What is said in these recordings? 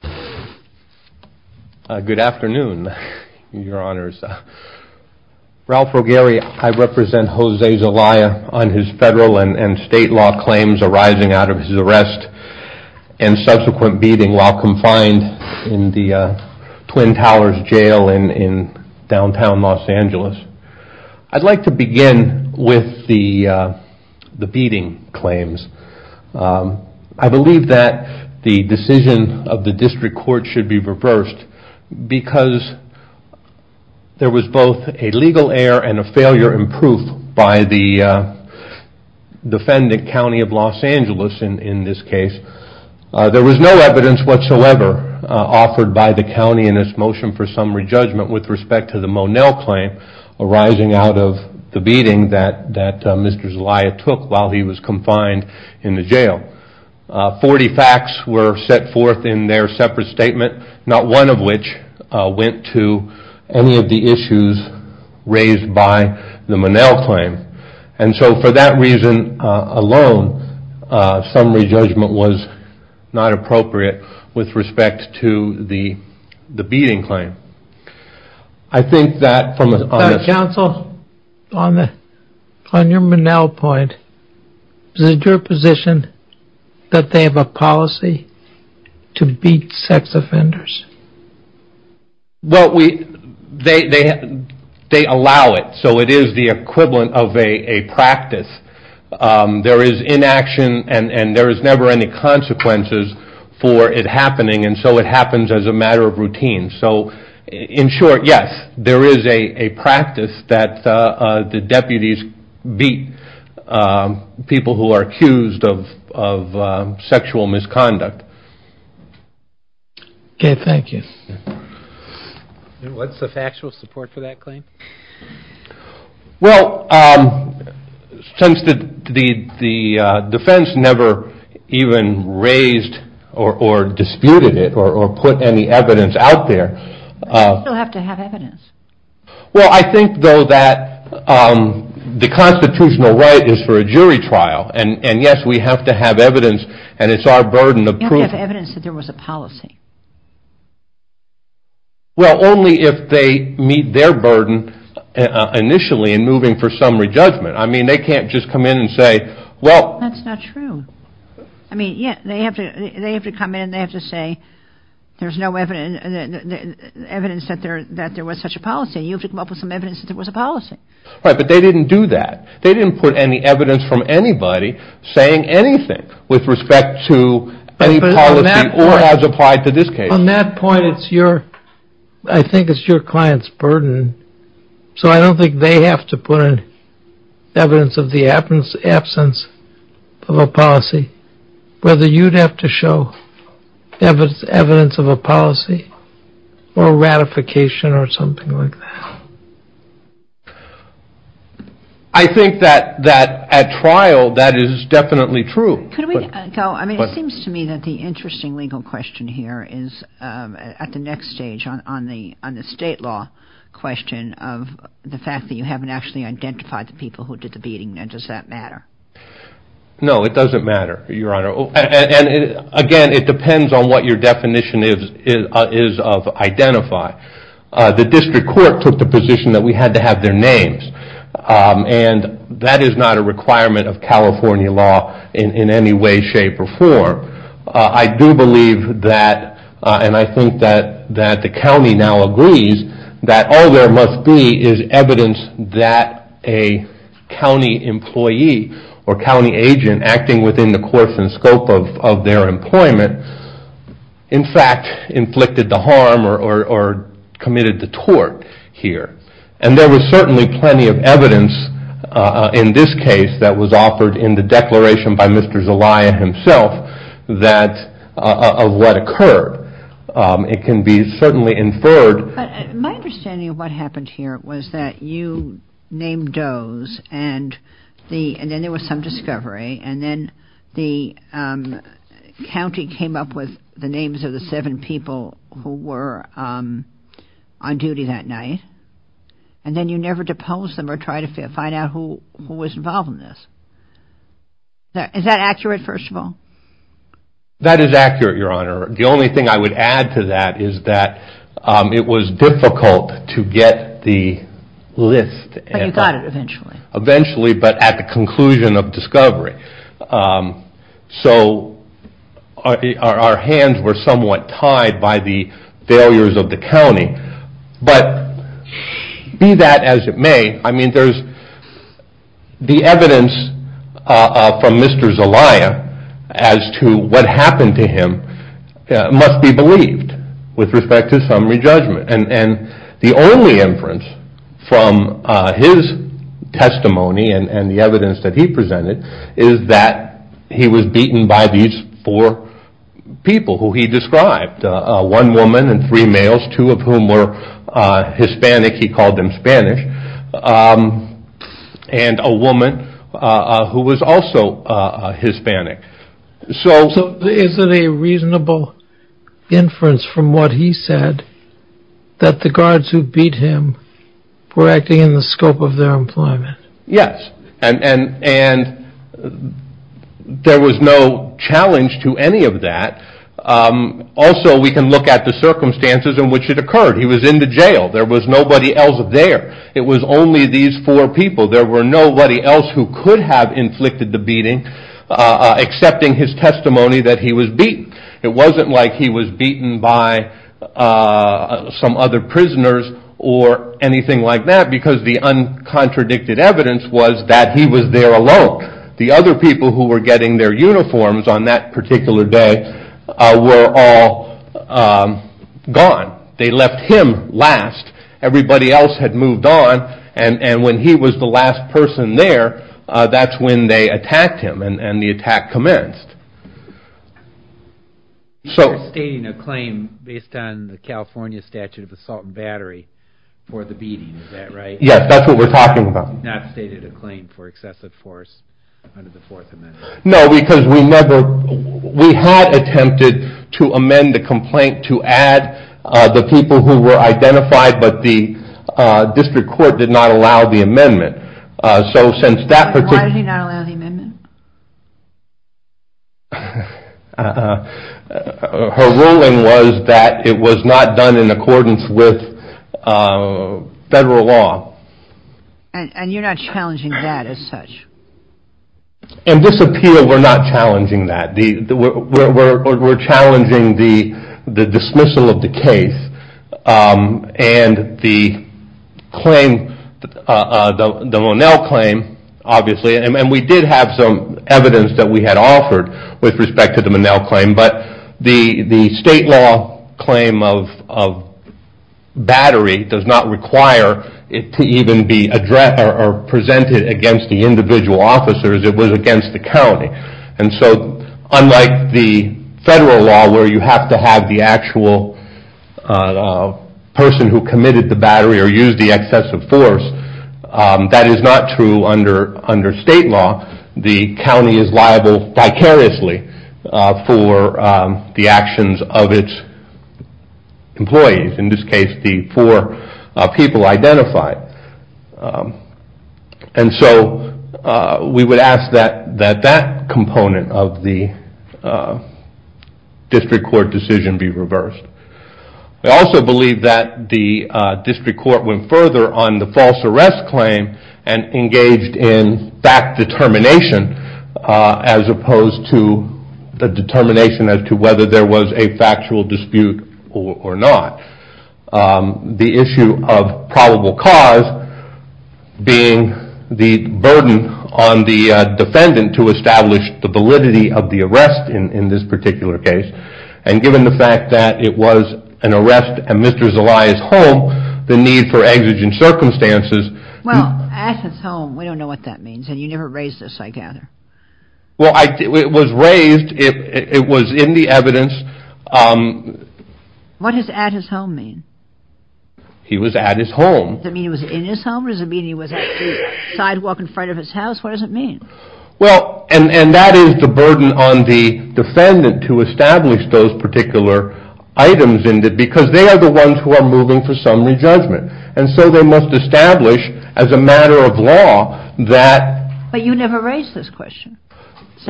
Good afternoon, your honors. Ralph Rogeri, I represent Jose Zelaya on his federal and state law claims arising out of his arrest and subsequent beating while confined in the Twin Towers Jail in downtown Los Angeles. I'd like to begin with the beating claims. I believe that the decision of the district court should be reversed because there was both a legal error and a failure in proof by the defendant, County of Los Angeles in this case. There was no evidence whatsoever offered by the county in its motion for summary judgment with respect to the Monell claim arising out of the beating that Mr. Zelaya took while he was confined in the jail. Forty facts were set forth in their separate statement, not one of which went to any of the issues raised by the Monell claim. For that reason alone, summary judgment was not appropriate with respect to the beating claim. Counsel, on your Monell point, is it your position that they have a policy to beat sex offenders? They allow it, so it is the equivalent of a practice. There is inaction and there is never any consequences for it happening and so it happens as a matter of routine. In short, yes, there is a practice that the deputies beat people who are accused of sexual misconduct. Okay, thank you. What is the factual support for that claim? Well, since the defense never even raised or disputed it or put any evidence out there. They still have to have evidence. Well, I think though that the constitutional right is for a jury trial and yes, we have to have evidence and it is our burden of proof. They don't have evidence that there was a policy. Well, only if they meet their burden initially in moving for summary judgment. I mean, they can't just come in and say, well. That's not true. I mean, yes, they have to come in and they have to say there is no evidence that there was such a policy. You have to come up with some evidence that there was a policy. Right, but they didn't do that. They didn't put any evidence from anybody saying anything with respect to any policy or as applied to this case. Well, on that point, I think it's your client's burden. So I don't think they have to put in evidence of the absence of a policy. Whether you'd have to show evidence of a policy or ratification or something like that. I think that at trial, that is definitely true. It seems to me that the interesting legal question here is at the next stage on the state law question of the fact that you haven't actually identified the people who did the beating. Now, does that matter? No, it doesn't matter, Your Honor. And again, it depends on what your definition is of identify. The district court took the position that we had to have their names. And that is not a requirement of California law in any way, shape, or form. I do believe that, and I think that the county now agrees, that all there must be is evidence that a county employee or county agent acting within the course and scope of their employment, in fact, inflicted the harm or committed the tort here. And there was certainly plenty of evidence in this case that was offered in the declaration by Mr. Zelaya himself of what occurred. It can be certainly inferred. My understanding of what happened here was that you named does, and then there was some discovery, and then the county came up with the names of the seven people who were on duty that night. And then you never deposed them or tried to find out who was involved in this. Is that accurate, first of all? That is accurate, Your Honor. The only thing I would add to that is that it was difficult to get the list. But you got it eventually. Eventually, but at the conclusion of discovery. So our hands were somewhat tied by the failures of the county. But be that as it may, the evidence from Mr. Zelaya as to what happened to him must be believed with respect to summary judgment. And the only inference from his testimony and the evidence that he presented is that he was beaten by these four people who he described. One woman and three males, two of whom were Hispanic. He called them Spanish. And a woman who was also Hispanic. So is it a reasonable inference from what he said that the guards who beat him were acting in the scope of their employment? Yes. And there was no challenge to any of that. Also, we can look at the circumstances in which it occurred. He was in the jail. There was nobody else there. It was only these four people. There was nobody else who could have inflicted the beating excepting his testimony that he was beaten. It wasn't like he was beaten by some other prisoners or anything like that because the uncontradicted evidence was that he was there alone. The other people who were getting their uniforms on that particular day were all gone. They left him last. Everybody else had moved on. And when he was the last person there, that's when they attacked him and the attack commenced. You're stating a claim based on the California statute of assault and battery for the beating. Is that right? Yes. That's what we're talking about. You have not stated a claim for excessive force under the Fourth Amendment. No, because we had attempted to amend the complaint to add the people who were identified, but the district court did not allow the amendment. Why did he not allow the amendment? Her ruling was that it was not done in accordance with federal law. And you're not challenging that as such? In this appeal, we're not challenging that. We're challenging the dismissal of the case and the claim, the Monell claim, obviously, and we did have some evidence that we had offered with respect to the Monell claim, but the state law claim of battery does not require it to even be presented against the individual officers. It was against the county. And so unlike the federal law where you have to have the actual person who committed the battery or used the excessive force, that is not true under state law. The county is liable vicariously for the actions of its employees, in this case, the four people identified. And so we would ask that that component of the district court decision be reversed. We also believe that the district court went further on the false arrest claim and engaged in fact determination as opposed to the determination as to whether there was a factual dispute or not. The issue of probable cause being the burden on the defendant to establish the validity of the arrest in this particular case. And given the fact that it was an arrest at Mr. Zelaya's home, the need for exigent circumstances. Well, at his home, we don't know what that means, and you never raised this, I gather. Well, it was raised. It was in the evidence. What does at his home mean? He was at his home. Does it mean he was in his home or does it mean he was at the sidewalk in front of his house? What does it mean? Well, and that is the burden on the defendant to establish those particular items, because they are the ones who are moving for summary judgment. And so they must establish as a matter of law that. But you never raised this question.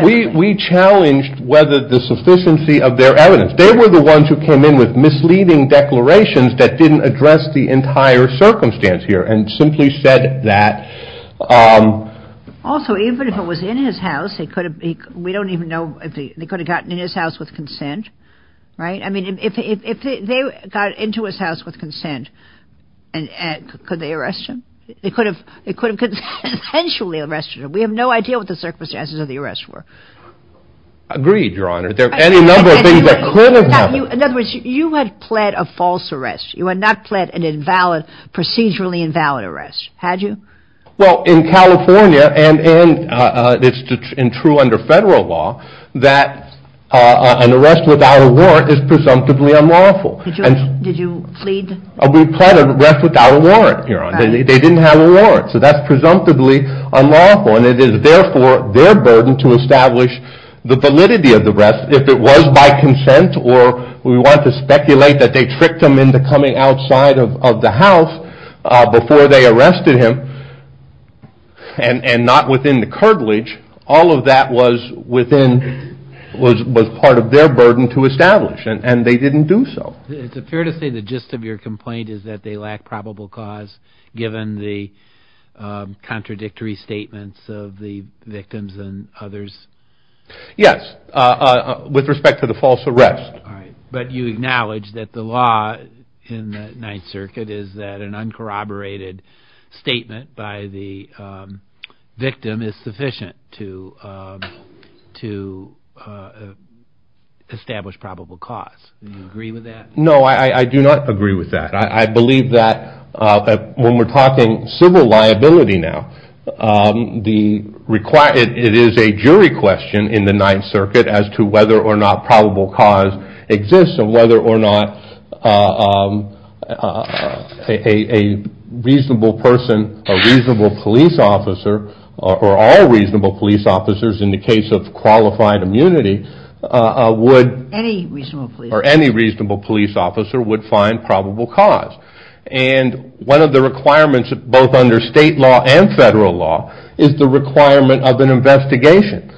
We challenged whether the sufficiency of their evidence. They were the ones who came in with misleading declarations that didn't address the entire circumstance here and simply said that. Also, even if it was in his house, we don't even know if they could have gotten in his house with consent, right? I mean, if they got into his house with consent, could they arrest him? They could have potentially arrested him. We have no idea what the circumstances of the arrest were. Agreed, Your Honor. There are any number of things that could have happened. In other words, you had pled a false arrest. You had not pled an invalid, procedurally invalid arrest, had you? Well, in California, and it's true under federal law, that an arrest without a warrant is presumptively unlawful. Did you plead? We pled an arrest without a warrant, Your Honor. They didn't have a warrant, so that's presumptively unlawful. And it is, therefore, their burden to establish the validity of the arrest. If it was by consent, or we want to speculate that they tricked him into coming outside of the house before they arrested him, and not within the curtilage, all of that was within, was part of their burden to establish, and they didn't do so. It's fair to say the gist of your complaint is that they lack probable cause, given the contradictory statements of the victims and others. Yes, with respect to the false arrest. But you acknowledge that the law in the Ninth Circuit is that an uncorroborated statement by the victim is sufficient to establish probable cause. Do you agree with that? No, I do not agree with that. I believe that when we're talking civil liability now, it is a jury question in the Ninth Circuit as to whether or not probable cause exists, and whether or not a reasonable person, a reasonable police officer, or all reasonable police officers in the case of qualified immunity would… Any reasonable police officer. would find probable cause. And one of the requirements, both under state law and federal law, is the requirement of an investigation.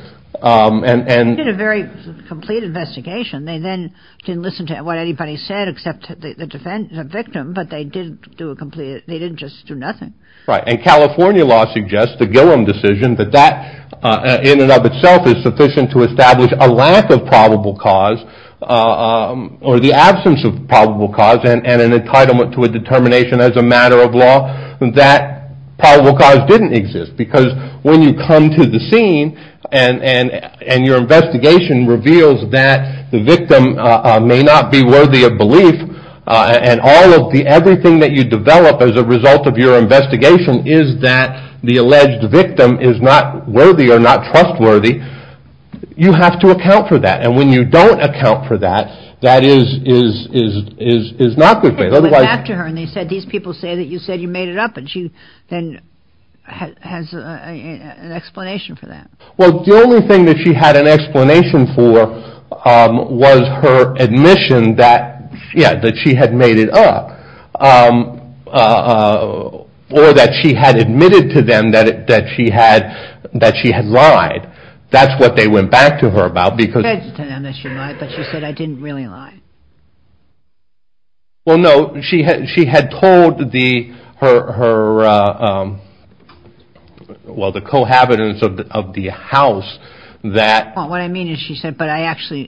They did a very complete investigation. They then didn't listen to what anybody said except the victim, but they didn't do a complete… They didn't just do nothing. Right. And California law suggests, the Gillum decision, that that in and of itself is sufficient to establish a lack of probable cause or the absence of probable cause and an entitlement to a determination as a matter of law that probable cause didn't exist. Because when you come to the scene and your investigation reveals that the victim may not be worthy of belief and everything that you develop as a result of your investigation is that the alleged victim is not worthy or not trustworthy, you have to account for that. And when you don't account for that, that is not good faith. They went after her and they said, these people say that you said you made it up, and she then has an explanation for that. Well, the only thing that she had an explanation for was her admission that she had made it up or that she had admitted to them that she had lied. That's what they went back to her about because… She admitted to them that she lied, but she said, I didn't really lie. Well, no. She had told her, well, the cohabitants of the house that… What I mean is she said, but it actually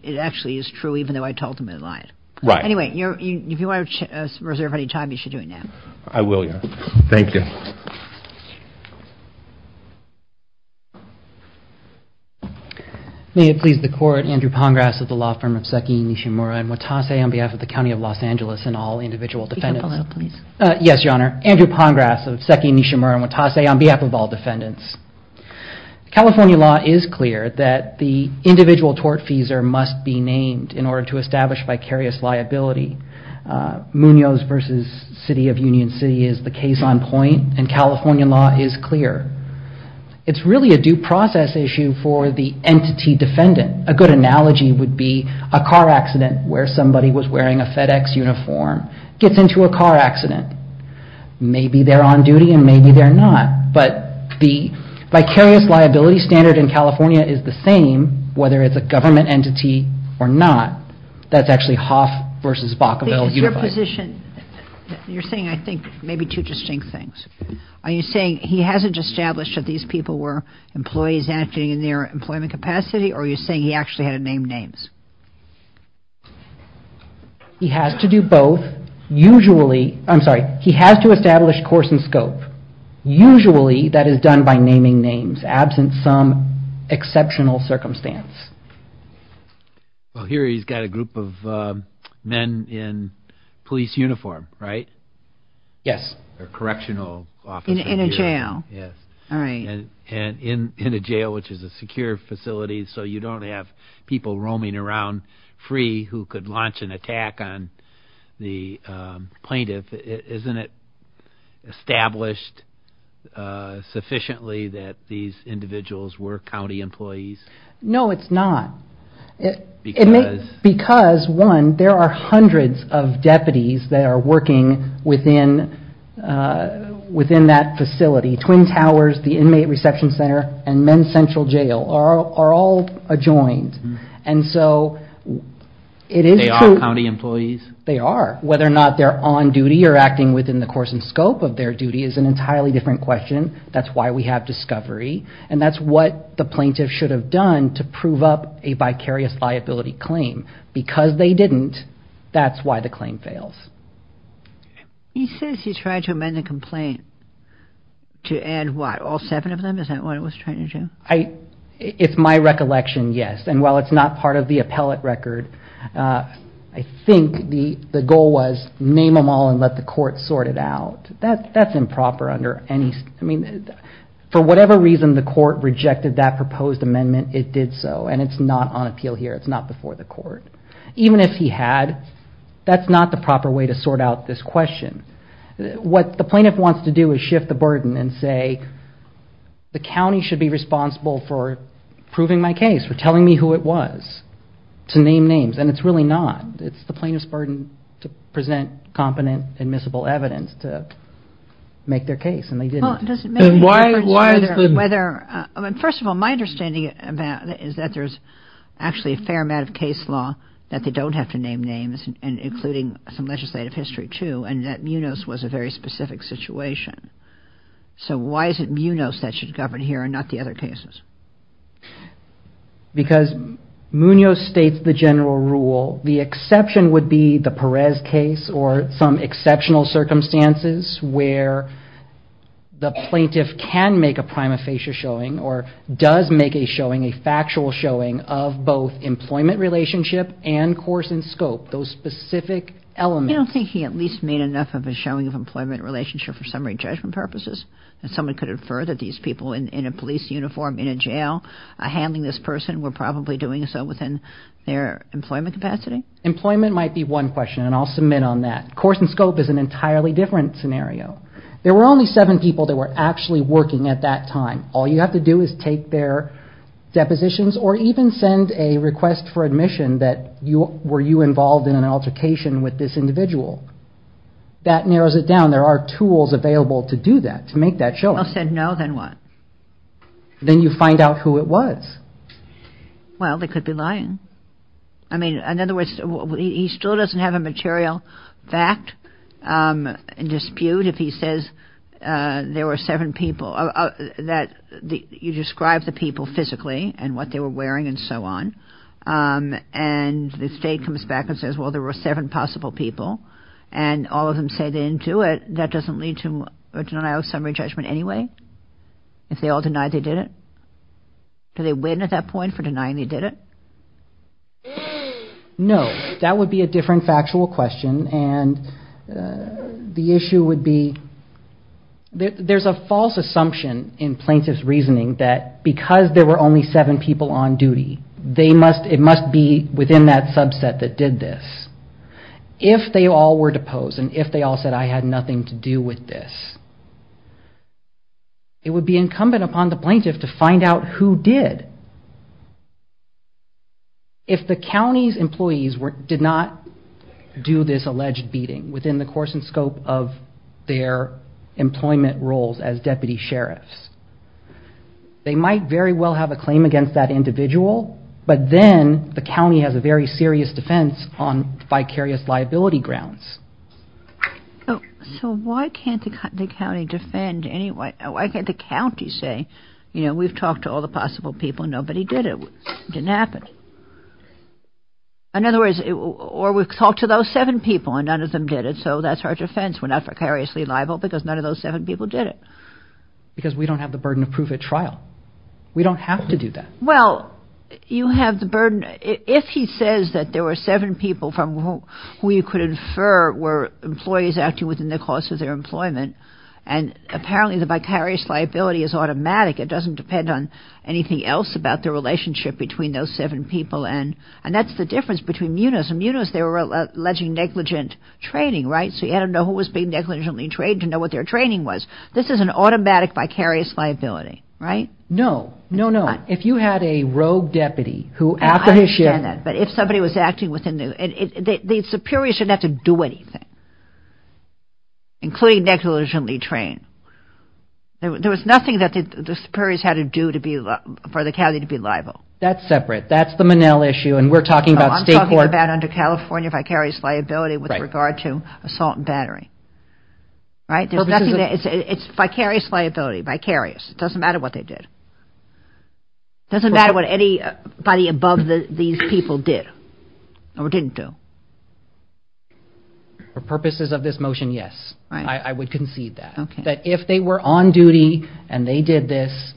is true even though I told them I lied. Right. Anyway, if you want to reserve any time, you should do it now. I will, yes. Thank you. May it please the court, Andrew Pongrass of the law firm of Seki Nishimura and Watase on behalf of the County of Los Angeles and all individual defendants. Yes, Your Honor. Andrew Pongrass of Seki Nishimura and Watase on behalf of all defendants. California law is clear that the individual tortfeasor must be named in order to establish vicarious liability. Munoz v. City of Union City is the case on point, and California law is clear. It's really a due process issue for the entity defendant. A good analogy would be a car accident where somebody was wearing a FedEx uniform gets into a car accident. Maybe they're on duty and maybe they're not, but the vicarious liability standard in California is the same whether it's a government entity or not. That's actually Hoff v. Bakavel Unified. You're saying, I think, maybe two distinct things. Are you saying he hasn't established that these people were employees acting in their employment capacity or are you saying he actually had to name names? He has to do both. Usually, I'm sorry, he has to establish course and scope. Usually that is done by naming names absent some exceptional circumstance. Well, here he's got a group of men in police uniform, right? Yes. A correctional officer. In a jail. Yes. All right. In a jail, which is a secure facility, so you don't have people roaming around free who could launch an attack on the plaintiff. Isn't it established sufficiently that these individuals were county employees? No, it's not. Because? Because, one, there are hundreds of deputies that are working within that facility. Twin Towers, the Inmate Reception Center, and Men's Central Jail are all adjoined. They are county employees? They are. Whether or not they're on duty or acting within the course and scope of their duty is an entirely different question. That's why we have discovery. And that's what the plaintiff should have done to prove up a vicarious liability claim. Because they didn't, that's why the claim fails. He says he tried to amend the complaint to add, what, all seven of them? Is that what it was trying to do? It's my recollection, yes. And while it's not part of the appellate record, I think the goal was name them all and let the court sort it out. That's improper under any – I mean, for whatever reason the court rejected that proposed amendment, it did so. And it's not on appeal here. It's not before the court. Even if he had, that's not the proper way to sort out this question. What the plaintiff wants to do is shift the burden and say, the county should be responsible for proving my case, for telling me who it was, to name names. And it's really not. It's the plaintiff's burden to present competent admissible evidence to make their case. And they didn't. First of all, my understanding is that there's actually a fair amount of case law that they don't have to name names, including some legislative history, too, and that Munoz was a very specific situation. So why is it Munoz that should govern here and not the other cases? Because Munoz states the general rule. The exception would be the Perez case or some exceptional circumstances where the plaintiff can make a prima facie showing or does make a showing, a factual showing of both employment relationship and course and scope, those specific elements. I don't think he at least made enough of a showing of employment relationship for summary judgment purposes. Someone could infer that these people in a police uniform in a jail handling this person were probably doing so within their employment capacity. Employment might be one question, and I'll submit on that. Course and scope is an entirely different scenario. There were only seven people that were actually working at that time. All you have to do is take their depositions or even send a request for admission that were you involved in an altercation with this individual. That narrows it down. There are tools available to do that, to make that showing. Then you find out who it was. Well, they could be lying. I mean, in other words, he still doesn't have a material fact and dispute. If he says there were seven people that you describe the people physically and what they were wearing and so on, and the state comes back and says, well, there were seven possible people, and all of them say they didn't do it, that doesn't lead to a denial of summary judgment anyway? If they all denied they did it? Do they win at that point for denying they did it? No. That would be a different factual question, and the issue would be there's a false assumption in plaintiff's reasoning that because there were only seven people on duty, it must be within that subset that did this. If they all were deposed and if they all said I had nothing to do with this, it would be incumbent upon the plaintiff to find out who did. If the county's employees did not do this alleged beating within the course and scope of their employment roles as deputy sheriffs, they might very well have a claim against that individual, but then the county has a very serious defense on vicarious liability grounds. So why can't the county defend anyway? Why can't the county say, you know, we've talked to all the possible people, nobody did it, it didn't happen? In other words, or we've talked to those seven people and none of them did it, so that's our defense, we're not vicariously liable because none of those seven people did it. Because we don't have the burden of proof at trial. We don't have to do that. Well, you have the burden, if he says that there were seven people from whom you could infer were employees acting within the course of their employment and apparently the vicarious liability is automatic, it doesn't depend on anything else about the relationship between those seven people and that's the difference between MUNAs. MUNAs, they were alleging negligent training, right? So you had to know who was being negligently trained to know what their training was. This is an automatic vicarious liability, right? No, no, no. If you had a rogue deputy who after his shift... I understand that, but if somebody was acting within the... the superiors shouldn't have to do anything, including negligently trained. There was nothing that the superiors had to do for the county to be liable. That's separate. That's the MUNEL issue and we're talking about state court... No, I'm talking about under California vicarious liability with regard to assault and battery, right? There's nothing there. It's vicarious liability, vicarious. It doesn't matter what they did. It doesn't matter what anybody above these people did or didn't do. For purposes of this motion, yes, I would concede that. That if they were on duty and they did this,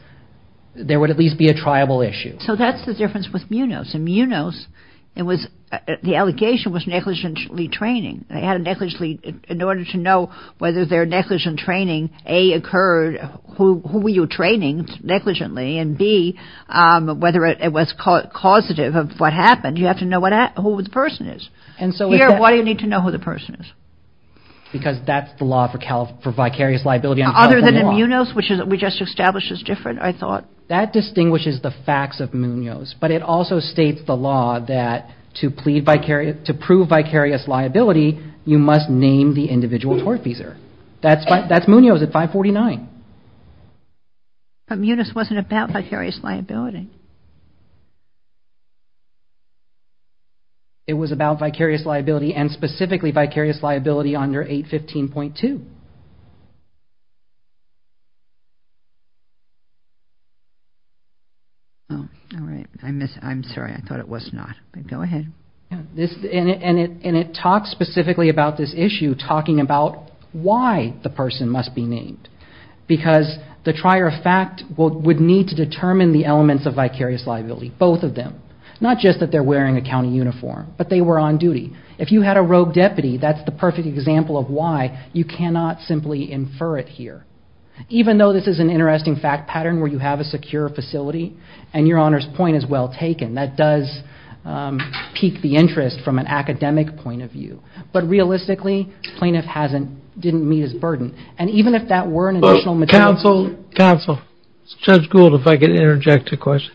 there would at least be a triable issue. So that's the difference with MUNAs. In MUNAs, the allegation was negligently training. In order to know whether they're negligent training, A, occurred, who were you training negligently, and B, whether it was causative of what happened. You have to know who the person is. Here, why do you need to know who the person is? Because that's the law for vicarious liability under California law. Other than MUNOs, which we just established is different, I thought. That distinguishes the facts of MUNOs, but it also states the law that to prove vicarious liability, you must name the individual tortfeasor. That's MUNOs at 549. But MUNAs wasn't about vicarious liability. It was about vicarious liability and specifically vicarious liability under 815.2. All right. I'm sorry. I thought it was not. Go ahead. And it talks specifically about this issue, talking about why the person must be named. Because the trier of fact would need to determine the elements of vicarious liability, both of them. Not just that they're wearing a county uniform, but they were on duty. If you had a rogue deputy, that's the perfect example of why you cannot simply infer it here. Even though this is an interesting fact pattern where you have a secure facility, and your Honor's point is well taken, that does pique the interest from an academic point of view. But realistically, plaintiff didn't meet his burden. And even if that were an additional material. Counsel, Judge Gould, if I could interject a question.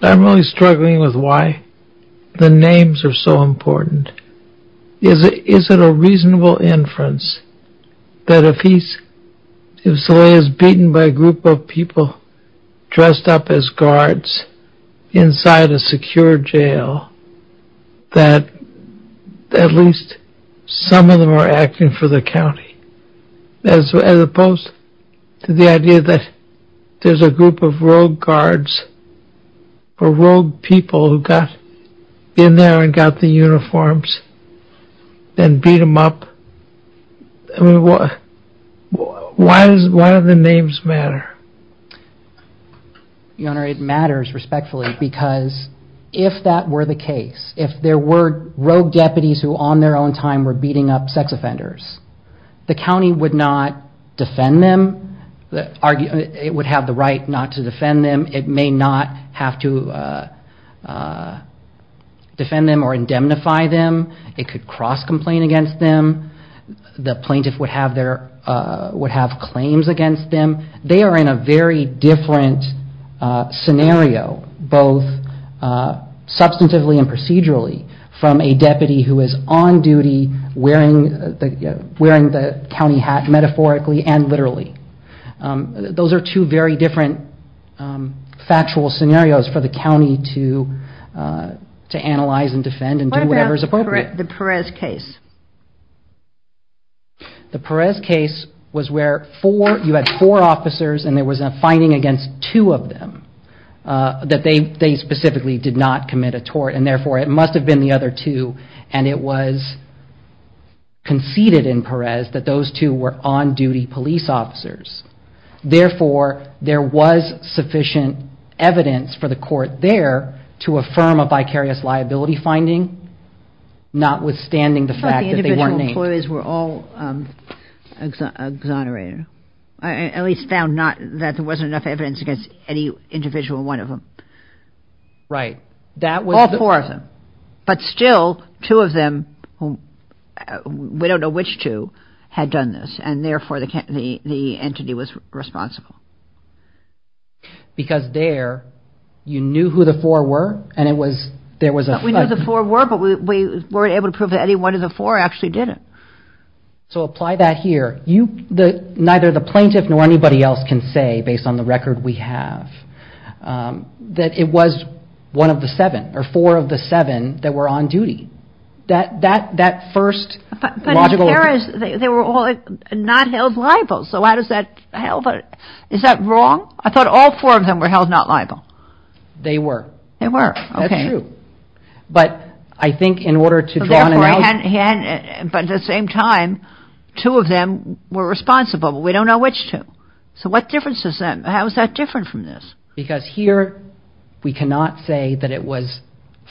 I'm really struggling with why the names are so important. Is it a reasonable inference that if he is beaten by a group of people dressed up as guards inside a secure jail, that at least some of them are acting for the county? As opposed to the idea that there's a group of rogue guards, or rogue people, who got in there and got the uniforms and beat them up. Why do the names matter? Your Honor, it matters respectfully because if that were the case, if there were rogue deputies who on their own time were beating up sex offenders, the county would not defend them. It would have the right not to defend them. It may not have to defend them or indemnify them. It could cross-complain against them. The plaintiff would have claims against them. They are in a very different scenario both substantively and procedurally from a deputy who is on duty wearing the county hat metaphorically and literally. Those are two very different factual scenarios for the county to analyze and defend and do whatever is appropriate. What about the Perez case? The Perez case was where you had four officers and there was a finding against two of them that they specifically did not commit a tort, and therefore it must have been the other two and it was conceded in Perez that those two were on-duty police officers. Therefore, there was sufficient evidence for the court there to affirm a vicarious liability finding, notwithstanding the fact that they weren't named. The individual employees were all exonerated, at least found that there wasn't enough evidence against any individual one of them. Right. All four of them, but still two of them, we don't know which two, had done this and therefore the entity was responsible. Because there, you knew who the four were and it was, there was a We knew who the four were, but we weren't able to prove that any one of the four actually did it. So apply that here. Neither the plaintiff nor anybody else can say, based on the record we have, that it was one of the seven or four of the seven that were on duty. That first logical But in Perez, they were all not held liable, so how does that help? Is that wrong? I thought all four of them were held not liable. They were. They were. That's true. But I think in order to draw an analogy But at the same time, two of them were responsible, but we don't know which two. So what difference does that make? How is that different from this? Because here we cannot say that it was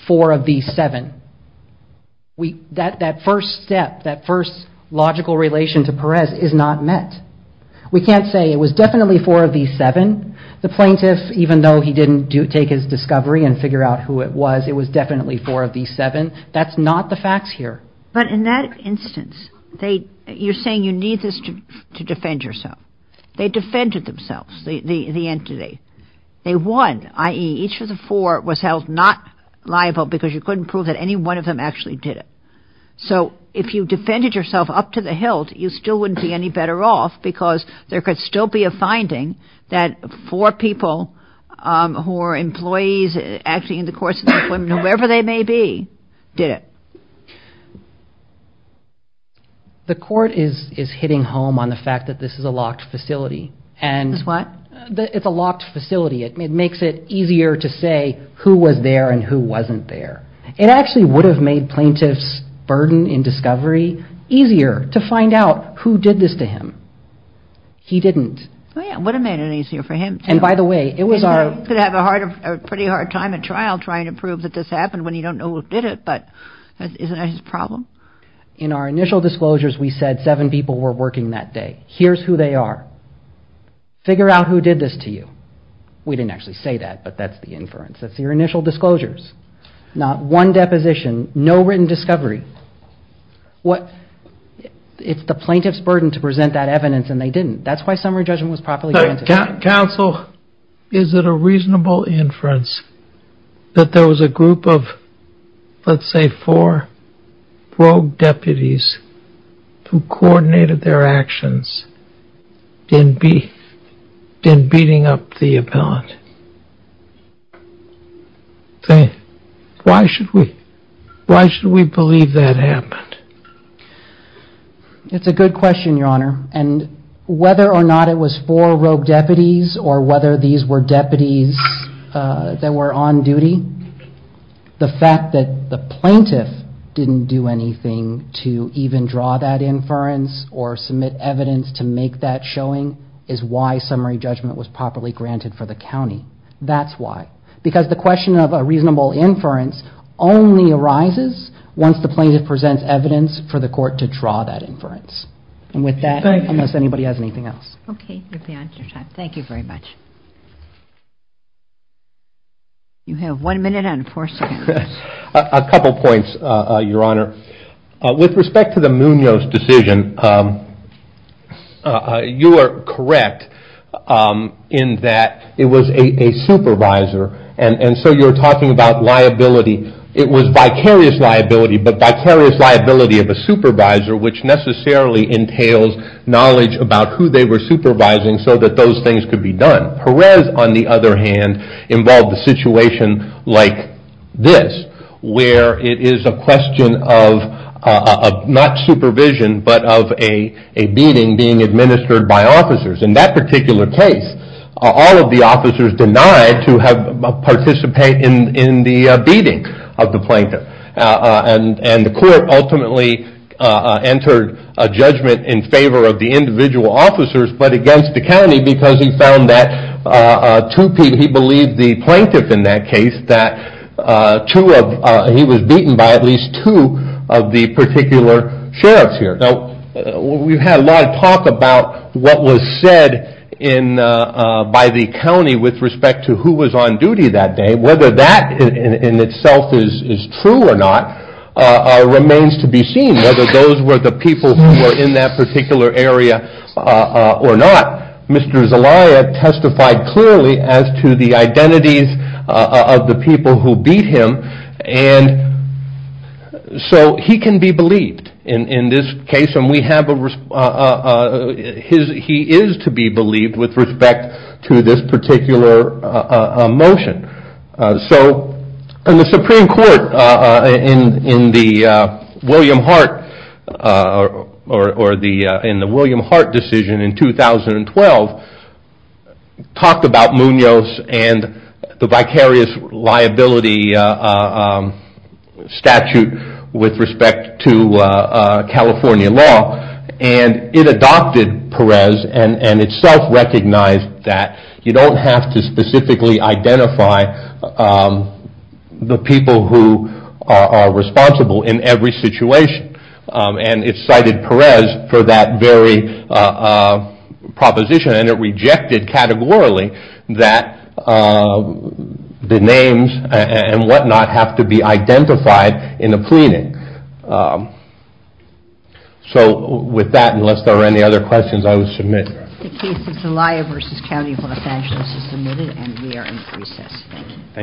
four of the seven. That first step, that first logical relation to Perez is not met. We can't say it was definitely four of the seven. The plaintiff, even though he didn't take his discovery and figure out who it was, it was definitely four of the seven. That's not the facts here. But in that instance, you're saying you need this to defend yourself. They defended themselves, the entity. They won, i.e., each of the four was held not liable because you couldn't prove that any one of them actually did it. So if you defended yourself up to the hilt, you still wouldn't be any better off because there could still be a finding that four people who are employees actually in the courts of employment, whoever they may be, did it. The court is hitting home on the fact that this is a locked facility. It's what? It's a locked facility. It makes it easier to say who was there and who wasn't there. It actually would have made plaintiffs' burden in discovery easier to find out who did this to him. He didn't. It would have made it easier for him. And by the way, it was our... He could have a pretty hard time at trial trying to prove that this happened when you don't know who did it, but isn't that his problem? In our initial disclosures, we said seven people were working that day. Here's who they are. Figure out who did this to you. We didn't actually say that, but that's the inference. That's your initial disclosures. Not one deposition, no written discovery. It's the plaintiff's burden to present that evidence, and they didn't. That's why summary judgment was properly granted. Counsel, is it a reasonable inference that there was a group of, let's say, four rogue deputies who coordinated their actions in beating up the appellant? Why should we believe that happened? It's a good question, Your Honor. And whether or not it was four rogue deputies or whether these were deputies that were on duty, the fact that the plaintiff didn't do anything to even draw that inference or submit evidence to make that showing is why summary judgment was properly granted for the county. That's why. Because the question of a reasonable inference only arises once the plaintiff presents evidence for the court to draw that inference. And with that, unless anybody has anything else. Okay. You're beyond your time. Thank you very much. You have one minute on four seconds. A couple points, Your Honor. With respect to the Munoz decision, you are correct in that it was a supervisor, and so you're talking about liability. It was vicarious liability, but vicarious liability of a supervisor, which necessarily entails knowledge about who they were supervising so that those things could be done. But Perez, on the other hand, involved a situation like this, where it is a question of not supervision, but of a beating being administered by officers. In that particular case, all of the officers denied to participate in the beating of the plaintiff. And the court ultimately entered a judgment in favor of the individual officers, but against the county because he found that two people, he believed the plaintiff in that case, that he was beaten by at least two of the particular sheriffs here. Now, we've had a lot of talk about what was said by the county with respect to who was on duty that day. Whether that in itself is true or not remains to be seen, whether those were the people who were in that particular area or not. Mr. Zelaya testified clearly as to the identities of the people who beat him, and so he can be believed in this case, and he is to be believed with respect to this particular motion. The Supreme Court in the William Hart decision in 2012 talked about Munoz and the vicarious liability statute with respect to California law, and it adopted Perez and itself recognized that you don't have to specifically identify the people who are responsible in every situation. And it cited Perez for that very proposition, and it rejected categorically that the names and whatnot have to be identified in a pleading. So with that, unless there are any other questions, I will submit. The case of Zelaya v. County of Los Angeles is submitted, and we are in recess. Thank you.